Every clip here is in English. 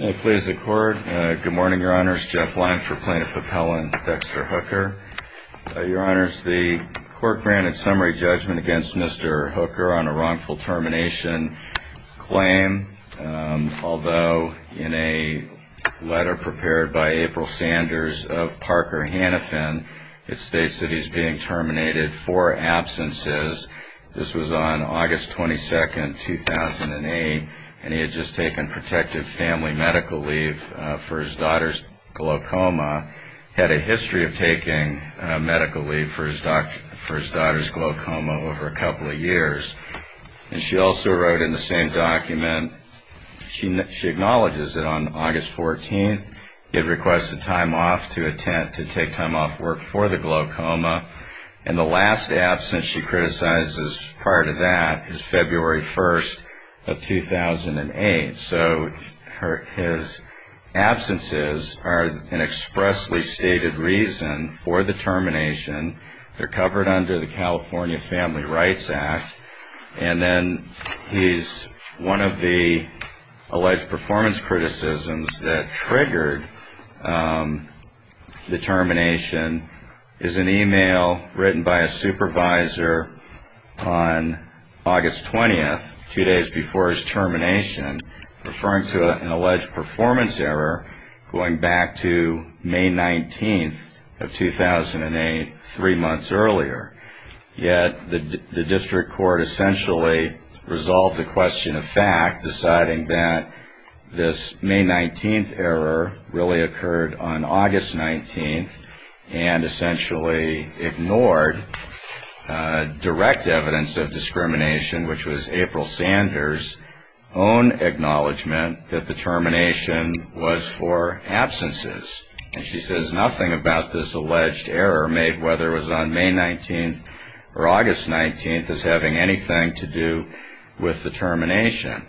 May it please the Court. Good morning, Your Honors. Jeff Lyon for Plaintiff Appellant, Dexter Hooker. Your Honors, the Court granted summary judgment against Mr. Hooker on a wrongful termination claim, although in a letter prepared by April Sanders of Parker Hannifin, it states that he's being terminated for absences. This was on August 22, 2008, and he had just taken protective family medical leave for his daughter's glaucoma. He had a history of taking medical leave for his daughter's glaucoma over a couple of years. And she also wrote in the same document, she acknowledges that on August 14th, he had requested time off to take time off work for the glaucoma. And the last absence she criticizes prior to that is February 1st of 2008. So his absences are an expressly stated reason for the termination. They're covered under the California Family Rights Act. And then he's, one of the alleged performance criticisms that triggered the termination is an email written by a supervisor on August 20th, two days before his termination, referring to an alleged performance error going back to May 19th of 2008, three months earlier. Yet the district court essentially resolved the question of fact, deciding that this May 19th error really occurred on August 19th, and essentially ignored direct evidence of discrimination, which was April Sanders' own acknowledgement that the termination was for absences. And she says nothing about this alleged error made, whether it was on May 19th or August 19th, is having anything to do with the termination.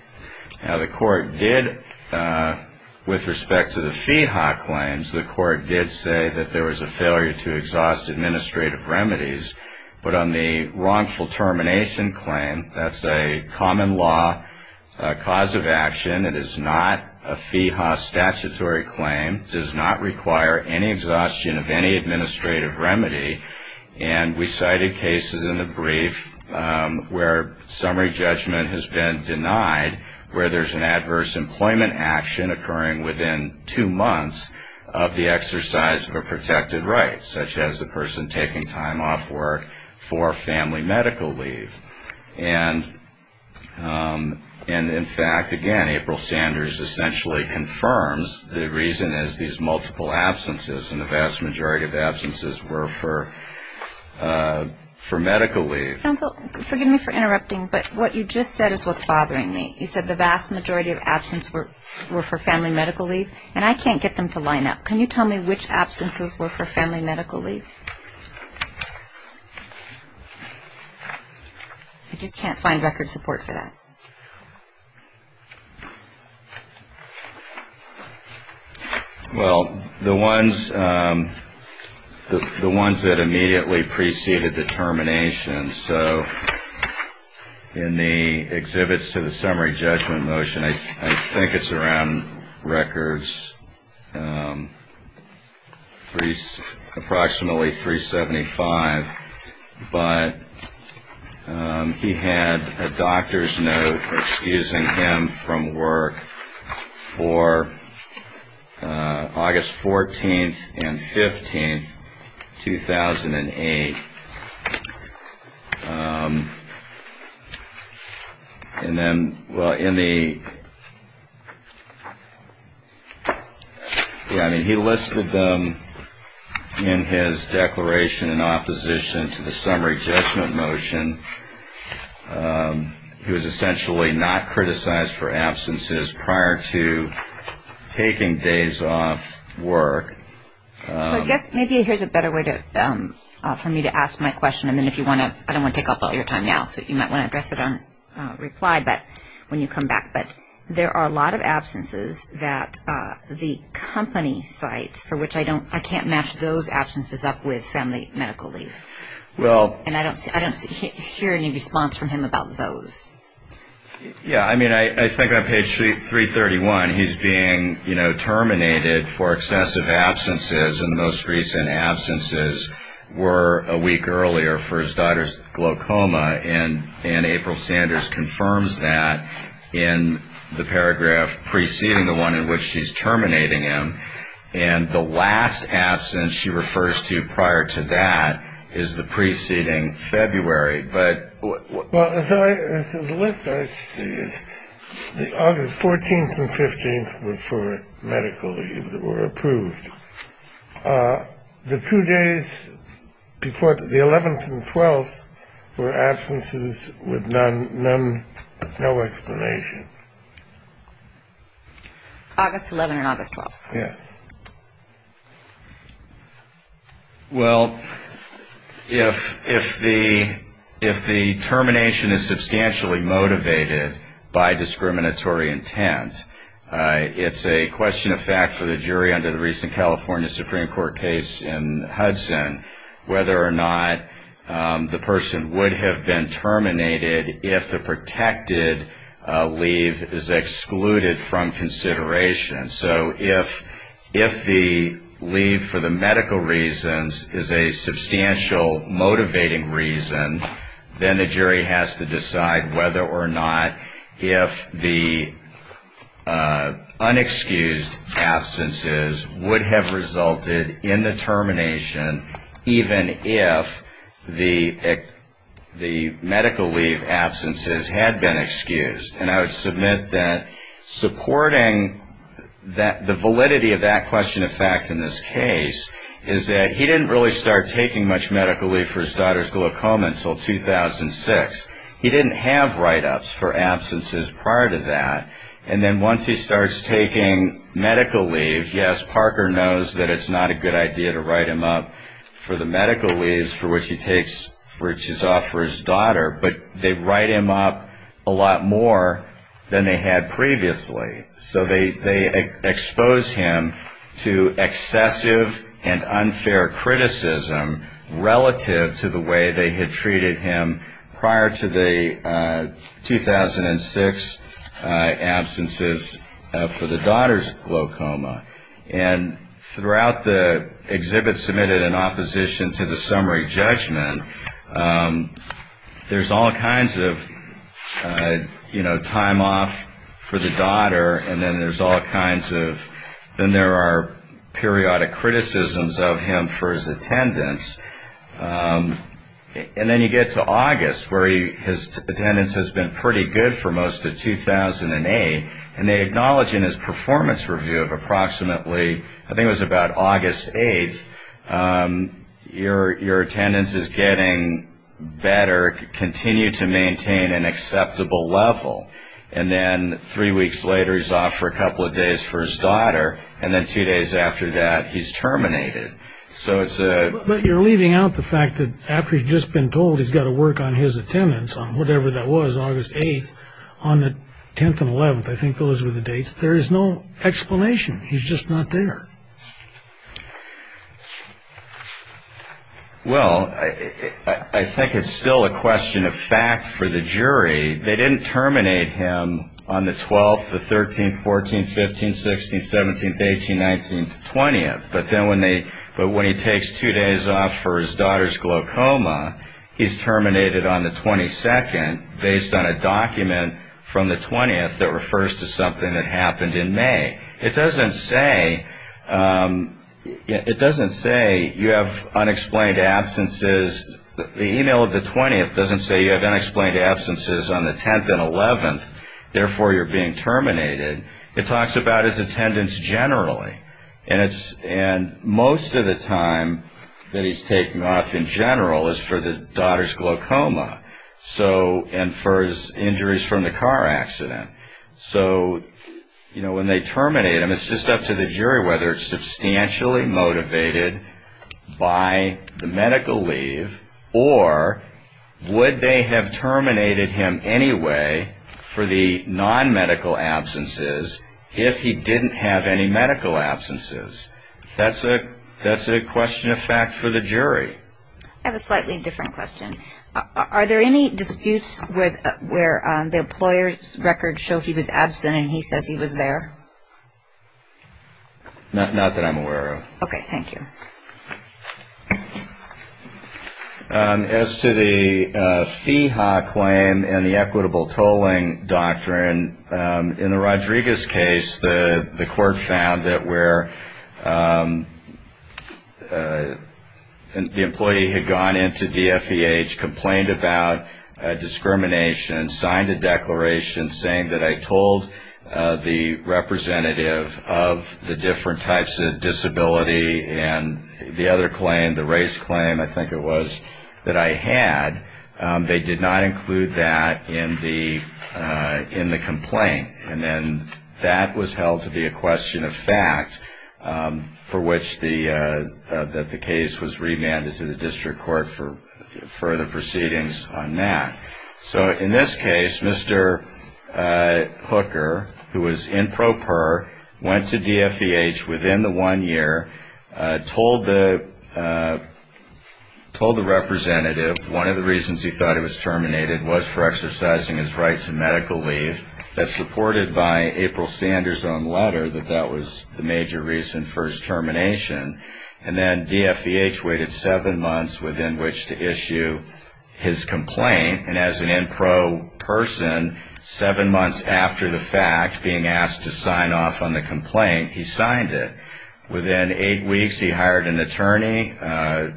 Now, the court did, with respect to the FEHA claims, the court did say that there was a failure to exhaust administrative remedies. But on the wrongful termination claim, that's a common law cause of action. It is not a FEHA statutory claim. It does not require any exhaustion of any administrative remedy. And we cited cases in the brief where summary judgment has been denied, where there's an adverse employment action occurring within two months of the exercise of a protected right, such as the person taking time off work for family medical leave. And, in fact, again, April Sanders essentially confirms the reason is these multiple absences, and the vast majority of absences were for medical leave. Counsel, forgive me for interrupting, but what you just said is what's bothering me. You said the vast majority of absences were for family medical leave, and I can't get them to line up. Can you tell me which absences were for family medical leave? I just can't find record support for that. Well, the ones that immediately preceded the termination. So in the exhibits to the summary judgment motion, I think it's around records approximately 375. But he had a doctor's note excusing him from work for August 14th and 15th, 2008. And then, well, in the he listed them in his declaration in opposition to the summary judgment motion. He was essentially not criticized for absences prior to taking days off work. So I guess maybe here's a better way for me to ask my question. I don't want to take up all your time now, so you might want to address it on reply when you come back. But there are a lot of absences that the company cites for which I can't match those absences up with family medical leave. And I don't hear any response from him about those. Yeah, I mean, I think on page 331, he's being terminated for excessive absences. And the most recent absences were a week earlier for his daughter's glaucoma. And April Sanders confirms that in the paragraph preceding the one in which she's terminating him. And the last absence she refers to prior to that is the preceding February. Well, the list I see is the August 14th and 15th were for medical leave. They were approved. The two days before the 11th and 12th were absences with none, no explanation. August 11th and August 12th. Yes. Well, if the termination is substantially motivated by discriminatory intent, it's a question of fact for the jury under the recent California Supreme Court case in Hudson, whether or not the person would have been terminated if the protected leave is excluded from consideration. So if the leave for the medical reasons is a substantial motivating reason, then the jury has to decide whether or not if the unexcused absences would have resulted in the termination, even if the medical leave absences had been excused. And I would submit that supporting the validity of that question of fact in this case is that he didn't really start taking much medical leave for his daughter's glaucoma until 2006. He didn't have write-ups for absences prior to that. And then once he starts taking medical leave, yes, Parker knows that it's not a good idea to write him up for the medical leave for which he takes for which he's off for his daughter. But they write him up a lot more than they had previously. So they expose him to excessive and unfair criticism relative to the way they had treated him prior to the 2006 absences for the daughter's glaucoma. And throughout the exhibit submitted in opposition to the summary judgment, there's all kinds of, you know, time off for the daughter, and then there's all kinds of then there are periodic criticisms of him for his attendance. And then you get to August where his attendance has been pretty good for most of 2008, and they acknowledge in his performance review of approximately I think it was about August 8th, your attendance is getting better, continue to maintain an acceptable level. And then three weeks later he's off for a couple of days for his daughter, and then two days after that he's terminated. So it's a... But you're leaving out the fact that after he's just been told he's got to work on his attendance on whatever that was, August 8th, there's no explanation, he's just not there. Well, I think it's still a question of fact for the jury. They didn't terminate him on the 12th, the 13th, 14th, 15th, 16th, 17th, 18th, 19th, 20th. But then when he takes two days off for his daughter's glaucoma, he's terminated on the 22nd based on a document from the 20th that refers to something that happened in May. It doesn't say you have unexplained absences. The email of the 20th doesn't say you have unexplained absences on the 10th and 11th, therefore you're being terminated. It talks about his attendance generally. And most of the time that he's taking off in general is for the daughter's glaucoma and for his injuries from the car accident. So when they terminate him, it's just up to the jury whether it's substantially motivated by the medical leave or would they have terminated him anyway for the non-medical absences if he didn't have any medical absences. That's a question of fact for the jury. I have a slightly different question. Are there any disputes where the employer's records show he was absent and he says he was there? Not that I'm aware of. Okay, thank you. As to the FEHA claim and the equitable tolling doctrine, in the Rodriguez case, the court found that where the employer's records show he was absent, the employee had gone into the FEH, complained about discrimination, signed a declaration saying that I told the representative of the different types of disability and the other claim, the race claim, I think it was, that I had. They did not include that in the complaint. And then that was held to be a question of fact for which the case was remanded to the judge. And I'm not going to go into the district court for further proceedings on that. So in this case, Mr. Hooker, who was in pro per, went to DFEH within the one year, told the representative one of the reasons he thought he was terminated was for exercising his right to medical leave. That's reported by April Sanders' own letter that that was the major reason for his termination. And then DFEH waited seven months within which to issue his complaint. And as an in pro person, seven months after the fact, being asked to sign off on the complaint, he signed it. Within eight weeks, he hired an attorney.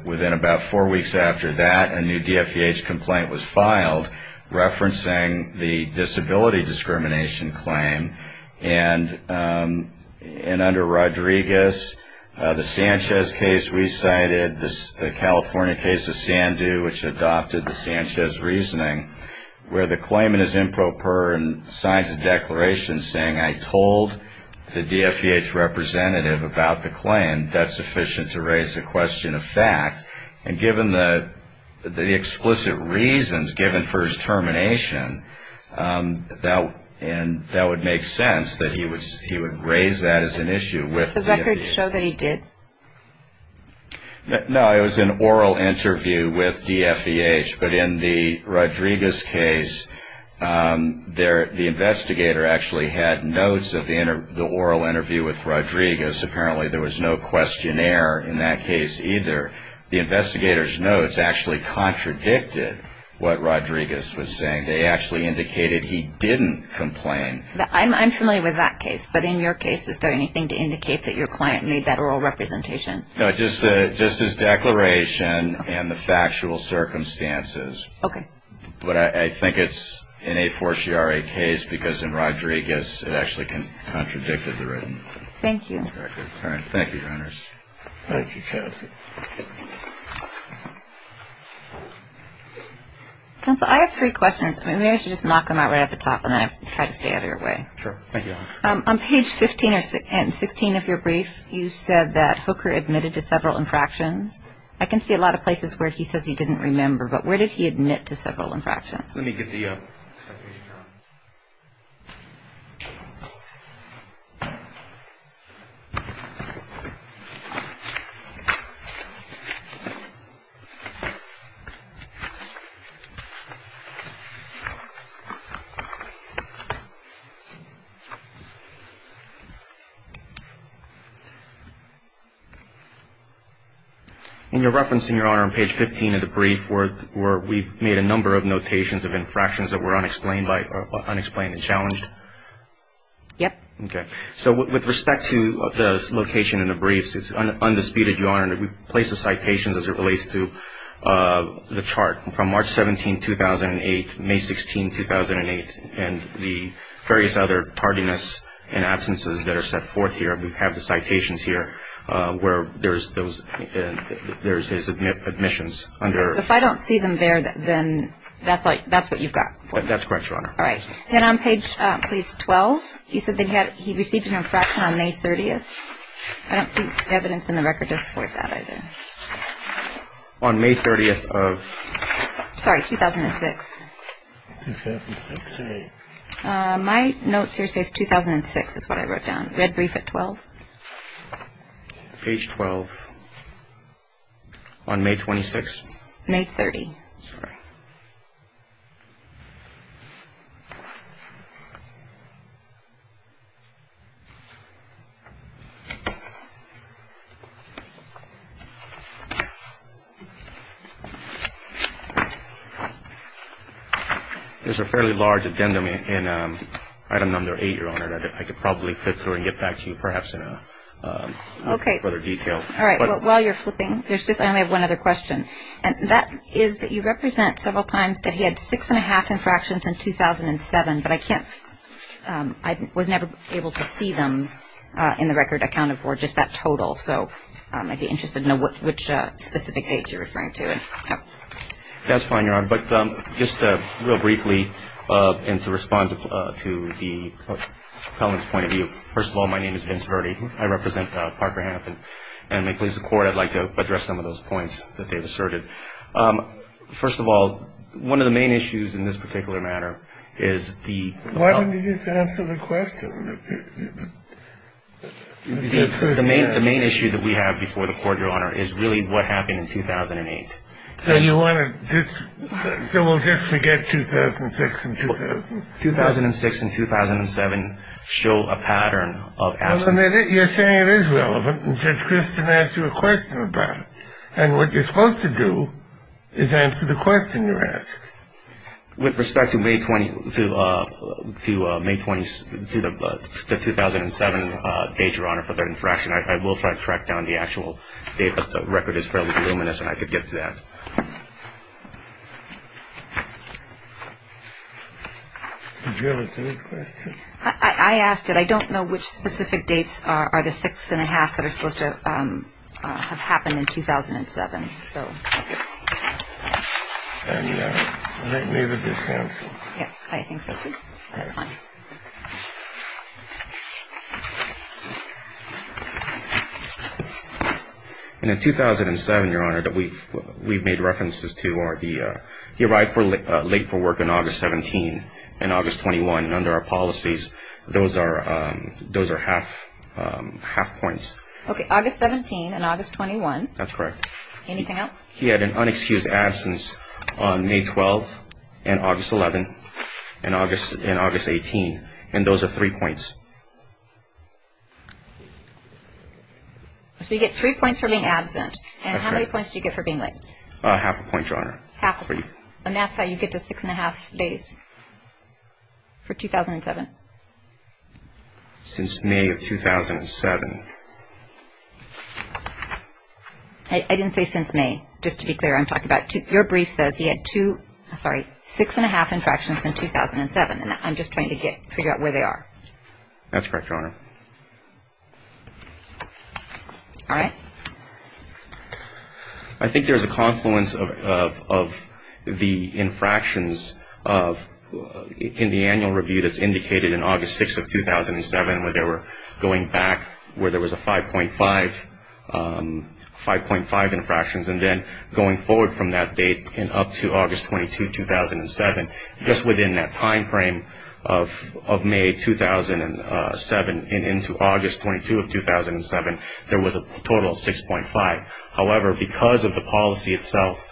Within about four weeks after that, a new DFEH complaint was filed referencing the disability discrimination claim. And under Rodriguez, the Sanchez case we cited, the California case of Sandu, which adopted the Sanchez reasoning, where the claimant is in pro per and signs a declaration saying, I told the DFEH representative about the claim. That's sufficient to raise the question of fact. And given the explicit reasons given for his termination, that would make sense that he would raise that as an issue with DFEH. No, it was an oral interview with DFEH. But in the Rodriguez case, the investigator actually had notes of the oral interview with Rodriguez. Apparently there was no questionnaire in that case either. The investigator's notes actually contradicted what Rodriguez was saying. They actually indicated he didn't complain. I'm familiar with that case. But in your case, is there anything to indicate that your client made that oral representation? No, just his declaration and the factual circumstances. But I think it's an a fortiori case because in Rodriguez, it actually contradicted the written record. Thank you. Counsel, I have three questions. Maybe I should just knock them out right at the top, and then I'll try to stay out of your way. On page 15 and 16 of your brief, you said that Hooker admitted to several infractions. I can see a lot of places where he says he didn't remember, but where did he admit to several infractions? In your reference, Your Honor, on page 15 of the brief, we've made a number of notations of infractions that were unexplained and challenged. Yep. Okay. So with respect to the location in the briefs, it's undisputed, Your Honor, that we place the citations as it relates to the chart. From March 17, 2008, May 16, 2008, and the various other tardiness and absences that are set forth here, we have the citations here where there's his admissions under. So if I don't see them there, then that's what you've got? That's correct, Your Honor. All right. Then on page, please, 12, you said that he received an infraction on May 30th. I don't see evidence in the record to support that either. On May 30th of? Sorry, 2006. 2006. I should say it's 2006 is what I wrote down. Read brief at 12. Page 12 on May 26th? May 30th. Sorry. There's a fairly large addendum in item number 8, Your Honor, that I could probably flip through and get back to you perhaps in further detail. All right. While you're flipping, I only have one other question, and that is that you represent several times that he had six-and-a-half infractions in 2007, but I was never able to see them in the record, I counted for just that total. So I'd be interested to know which specific dates you're referring to. That's fine, Your Honor. But just real briefly, and to respond to the appellant's point of view, first of all, my name is Vince Verde. I represent Parker Hanifin. And may it please the Court, I'd like to address some of those points that they've asserted. First of all, one of the main issues in this particular matter is the ---- Why don't you just answer the question? The main issue that we have before the Court, Your Honor, is really what happened in 2008. So you want to just ---- So we'll just forget 2006 and 2000? 2006 and 2007 show a pattern of absence. Well, then you're saying it is relevant, and Judge Christin asked you a question about it. And what you're supposed to do is answer the question you're asking. With respect to May 20th, to May 20th, the 2007 date, Your Honor, for that infraction, I will try to track down the actual date, but the record is fairly voluminous and I could get to that. Did you have a third question? I asked it. I don't know which specific dates are the six and a half that are supposed to have happened in 2007. And I think maybe this answers it. Yeah, I think so too. That's fine. And in 2007, Your Honor, that we've made references to are the ---- He arrived late for work on August 17 and August 21, and under our policies, those are half points. Okay, August 17 and August 21. That's correct. Anything else? He had an unexcused absence on May 12 and August 11 and August 18. And those are three points. So you get three points for being absent. And how many points do you get for being late? Half a point, Your Honor. Half a point. And that's how you get to six and a half days for 2007? Since May of 2007. I didn't say since May. Just to be clear, I'm talking about your brief says he had two ---- sorry, six and a half infractions in 2007. And I'm just trying to get ---- figure out where they are. All right. I think there's a confluence of the infractions in the annual review that's indicated in August 6 of 2007, where they were going back where there was a 5.5, 5.5 infractions, and then going forward from that date and up to August 22, 2007. Just within that timeframe of May 2007 and into August 22 of 2007, there was a total of 6.5. However, because of the policy itself,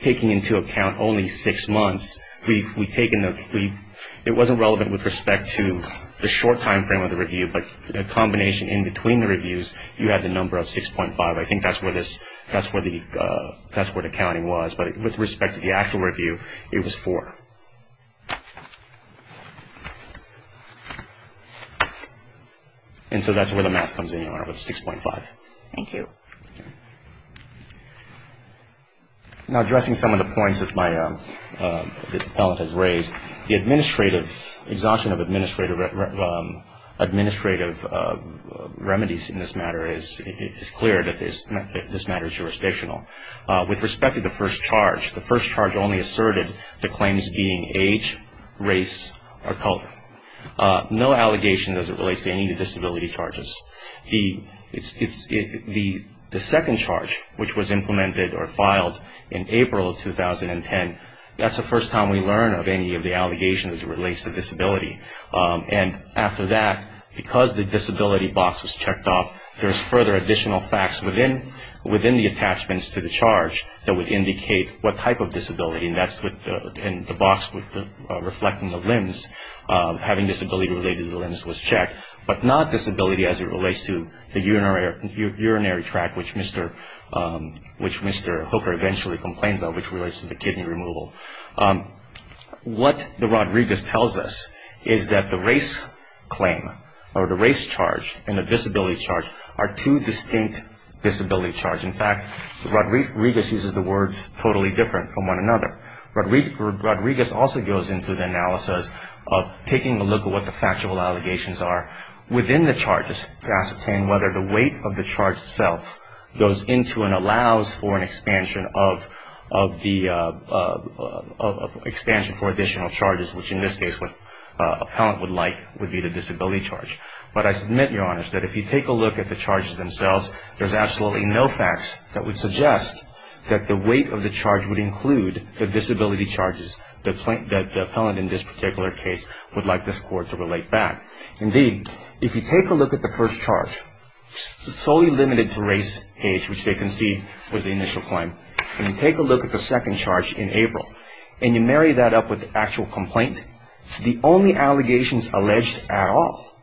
taking into account only six months, it wasn't relevant with respect to the short timeframe of the review, but the combination in between the reviews, you had the number of 6.5. I think that's where the counting was. But with respect to the actual review, it was four. And so that's where the math comes in, Your Honor, with 6.5. Thank you. Now, addressing some of the points that my appellant has raised, the administrative ---- exhaustion of administrative remedies in this matter is clear that this matter is jurisdictional. With respect to the first charge, the first charge only asserted the claims being age, race, or color. No allegation as it relates to any of the disability charges. The second charge, which was implemented or filed in April of 2010, that's the first time we learn of any of the allegations as it relates to disability. And after that, because the disability box was checked off, there's further additional facts within the attachments to the charge that would indicate what type of disability, and that's in the box reflecting the limbs, having disability related to the limbs was checked, but not disability as it relates to the urinary tract, which Mr. Hooker eventually complains of, which relates to the kidney removal. What the Rodriguez tells us is that the race claim or the race charge and the disability charge are two distinct disability charges. In fact, Rodriguez uses the words totally different from one another. Rodriguez also goes into the analysis of taking a look at what the factual allegations are within the charges to ascertain whether the weight of the charge itself goes into and allows for an expansion of the expansion for additional charges, which in this case what an appellant would like would be the disability charge. But I submit, Your Honors, that if you take a look at the charges themselves, there's absolutely no facts that would suggest that the weight of the charge would include the disability charges that the appellant in this particular case would like this Court to relate back. Indeed, if you take a look at the first charge, solely limited to race, age, which they concede was the initial claim, and you take a look at the second charge in April and you marry that up with the actual complaint, the only allegations alleged at all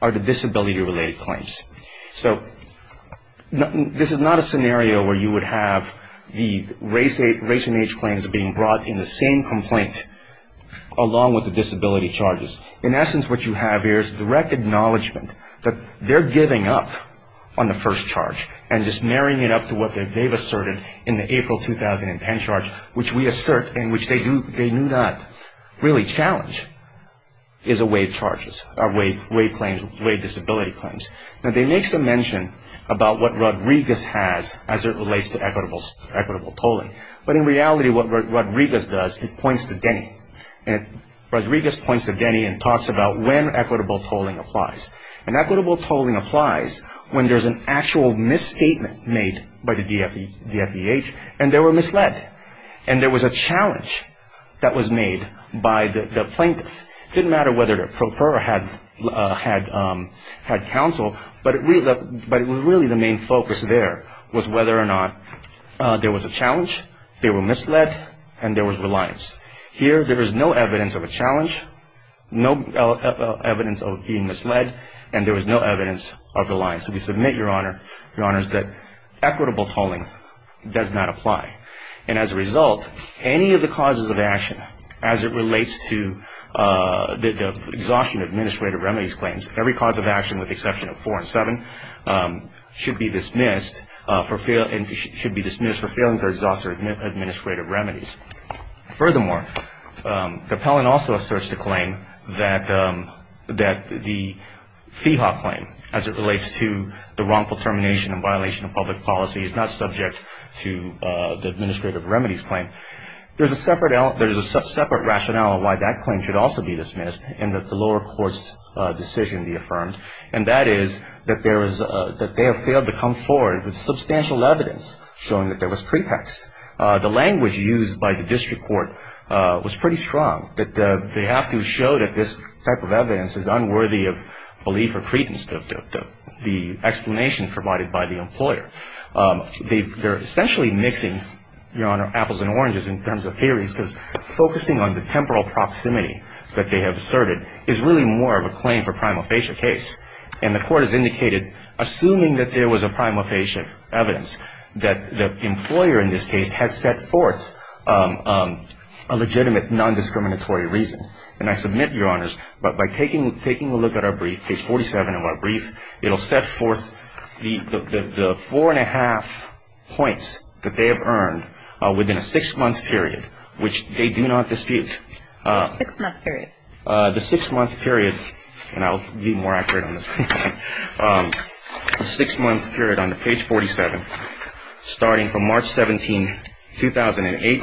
are the disability related claims. So this is not a scenario where you would have the race and age claims being brought in the same complaint along with the disability charges. In essence, what you have here is the recognizement that they're giving up on the first charge and just marrying it up to what they've asserted in the April 2010 charge, which we assert and which they do not really challenge, is the weight charges or weight claims, weight disability claims. Now, they make some mention about what Rodriguez has as it relates to equitable tolling. But in reality, what Rodriguez does, he points to Denny. Rodriguez points to Denny and talks about when equitable tolling applies. And equitable tolling applies when there's an actual misstatement made by the DFEH and they were misled. And there was a challenge that was made by the plaintiffs. It didn't matter whether the pro pera had counsel, but really the main focus there was whether or not there was a challenge, they were misled, and there was reliance. Here, there is no evidence of a challenge, no evidence of being misled, and there was no evidence of reliance. So we submit, Your Honor, Your Honors, that equitable tolling does not apply. And as a result, any of the causes of action as it relates to the exhaustion of administrative remedies claims, every cause of action with the exception of four and seven should be dismissed for failing to exhaust their administrative remedies. Furthermore, the appellant also asserts the claim that the FEHA claim as it relates to the wrongful termination and violation of public policy is not subject to the administrative remedies claim. There's a separate rationale why that claim should also be dismissed and that the lower court's decision be affirmed, and that is that they have failed to come forward with substantial evidence showing that there was pretext. The language used by the district court was pretty strong, that they have to show that this type of evidence is unworthy of belief or credence, the explanation provided by the employer. They're essentially mixing, Your Honor, apples and oranges in terms of theories, because focusing on the temporal proximity that they have asserted is really more of a claim for prima facie case. And the court has indicated, assuming that there was a prima facie evidence, that the employer in this case has set forth a legitimate nondiscriminatory reason. And I submit, Your Honors, but by taking a look at our brief, page 47 of our brief, it'll set forth the four and a half points that they have earned within a six-month period, which they do not dispute. What's a six-month period? The six-month period, and I'll be more accurate on this, the six-month period on page 47, starting from March 17, 2008,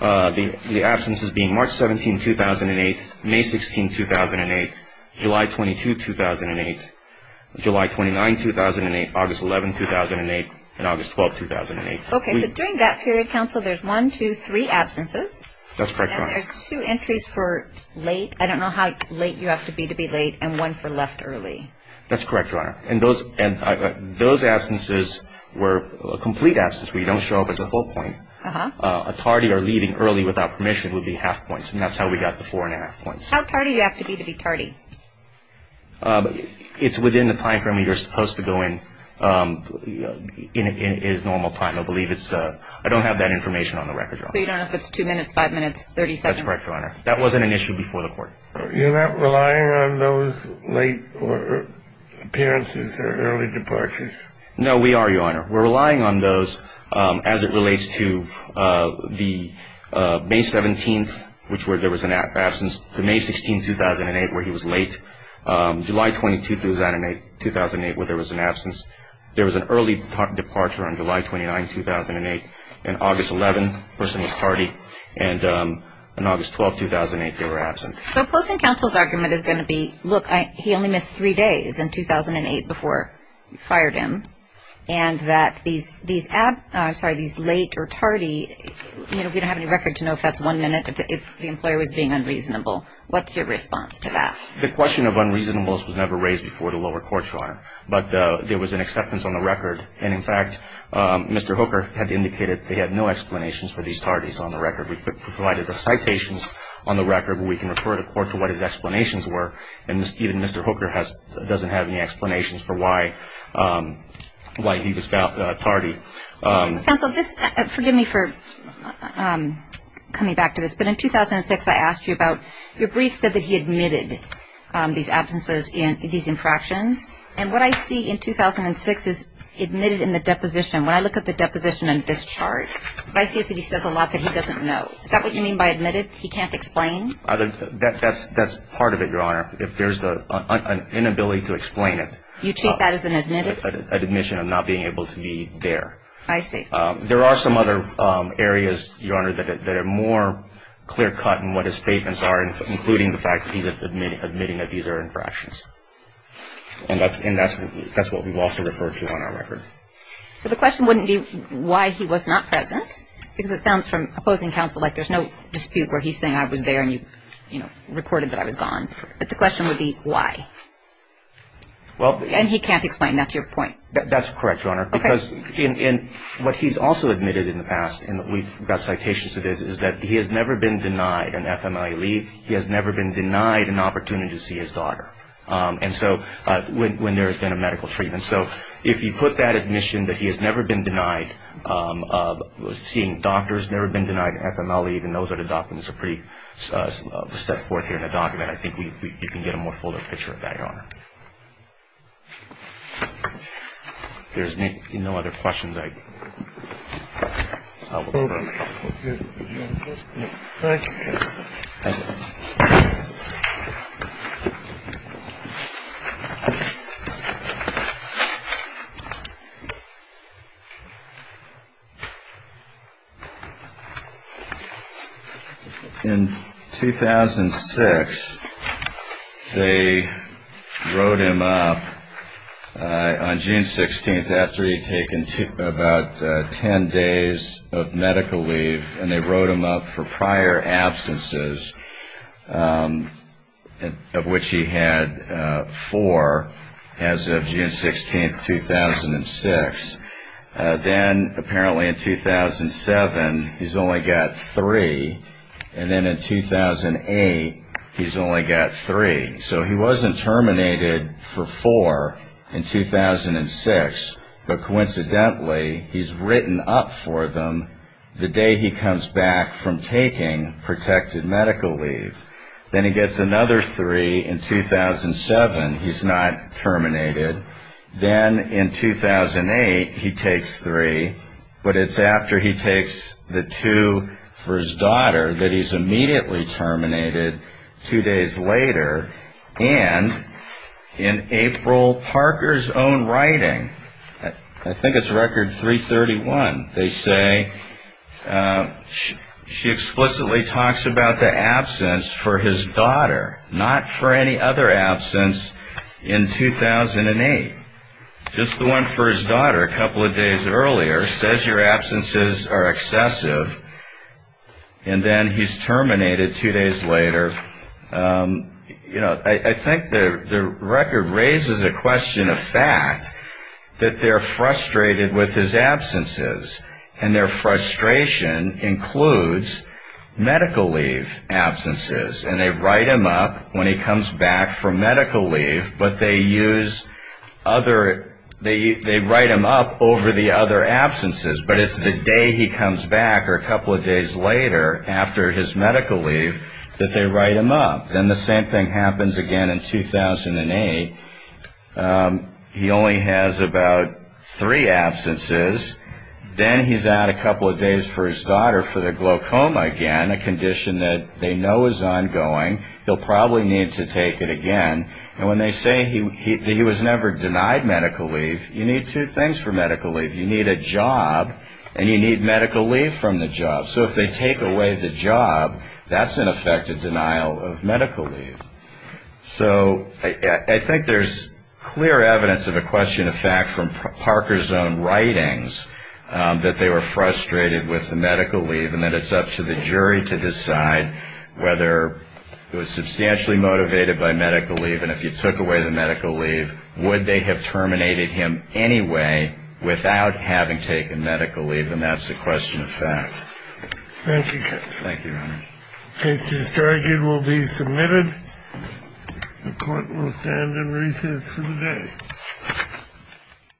the absences being March 17, 2008, May 16, 2008, July 22, 2008, July 29, 2008, August 11, 2008, and August 12, 2008. Okay, so during that period, Counsel, there's one, two, three absences. That's correct, Your Honor. And there's two entries for late. I don't know how late you have to be to be late, and one for left early. That's correct, Your Honor. And those absences were a complete absence where you don't show up as a whole point. A tardy or leaving early without permission would be half points, and that's how we got the four and a half points. How tardy do you have to be to be tardy? It's within the timeframe you're supposed to go in, in its normal time. I believe it's a – I don't have that information on the record, Your Honor. So you don't know if it's two minutes, five minutes, 30 seconds? That's correct, Your Honor. That wasn't an issue before the court. You're not relying on those late appearances or early departures? No, we are, Your Honor. We're relying on those as it relates to the May 17th, which there was an absence. The May 16, 2008, where he was late. July 22, 2008, where there was an absence. There was an early departure on July 29, 2008. And August 11, the person was tardy. And on August 12, 2008, they were absent. So Post and Counsel's argument is going to be, look, he only missed three days in 2008 before you fired him, and that these late or tardy – we don't have any record to know if that's one minute, if the employer was being unreasonable. What's your response to that? The question of unreasonableness was never raised before the lower court, Your Honor. But there was an acceptance on the record. And, in fact, Mr. Hooker had indicated that he had no explanations for these tardies on the record. We provided the citations on the record. We can refer the court to what his explanations were, and even Mr. Hooker doesn't have any explanations for why he was tardy. Counsel, forgive me for coming back to this, but in 2006, I asked you about – your brief said that he admitted these absences, these infractions. And what I see in 2006 is admitted in the deposition. When I look at the deposition in this chart, what I see is that he says a lot that he doesn't know. Is that what you mean by admitted? He can't explain? That's part of it, Your Honor, if there's an inability to explain it. You treat that as an admitted? An admission of not being able to be there. I see. There are some other areas, Your Honor, that are more clear cut in what his statements are, including the fact that he's admitting that these are infractions. And that's what we've also referred to on our record. So the question wouldn't be why he was not present, because it sounds from opposing counsel like there's no dispute where he's saying I was there and you recorded that I was gone. But the question would be why. And he can't explain. That's your point. That's correct, Your Honor, because what he's also admitted in the past, and we've got citations to this, is that he has never been denied an FMLA leave. He has never been denied an opportunity to see his daughter. And so when there has been a medical treatment. So if you put that admission that he has never been denied seeing doctors, never been denied an FMLA leave, and those are the documents that are pretty set forth here in the document, I think you can get a more fuller picture of that, Your Honor. If there's no other questions, I'll move on. Thank you. Thank you. In 2006, they wrote him up on June 16th after he'd taken about ten days of medical leave, and they wrote him up for prior absences, of which he had four as of June 16th, 2006. Then apparently in 2007 he's only got three, and then in 2008 he's only got three. So he wasn't terminated for four in 2006, but coincidentally he's written up for them the day he comes back from taking protected medical leave. Then he gets another three in 2007. He's not terminated. Then in 2008 he takes three, but it's after he takes the two for his daughter that he's immediately terminated two days later. And in April Parker's own writing, I think it's record 331, they say she explicitly talks about the absence for his daughter, not for any other absence in 2008. Just the one for his daughter a couple of days earlier says your absences are excessive, and then he's terminated two days later. I think the record raises a question of fact that they're frustrated with his absences, and their frustration includes medical leave absences, and they write him up when he comes back for medical leave, but they write him up over the other absences, but it's the day he comes back or a couple of days later after his medical leave that they write him up. Then the same thing happens again in 2008. He only has about three absences. Then he's out a couple of days for his daughter for the glaucoma again, a condition that they know is ongoing. He'll probably need to take it again. And when they say he was never denied medical leave, you need two things for medical leave. You need a job, and you need medical leave from the job. So if they take away the job, that's, in effect, a denial of medical leave. So I think there's clear evidence of a question of fact from Parker's own writings that they were frustrated with the medical leave, and that it's up to the jury to decide whether he was substantially motivated by medical leave, and if you took away the medical leave, would they have terminated him anyway without having taken medical leave? And that's a question of fact. Thank you, Judge. Thank you, Your Honor. The case is dragged and will be submitted. The Court will stand in recess for the day.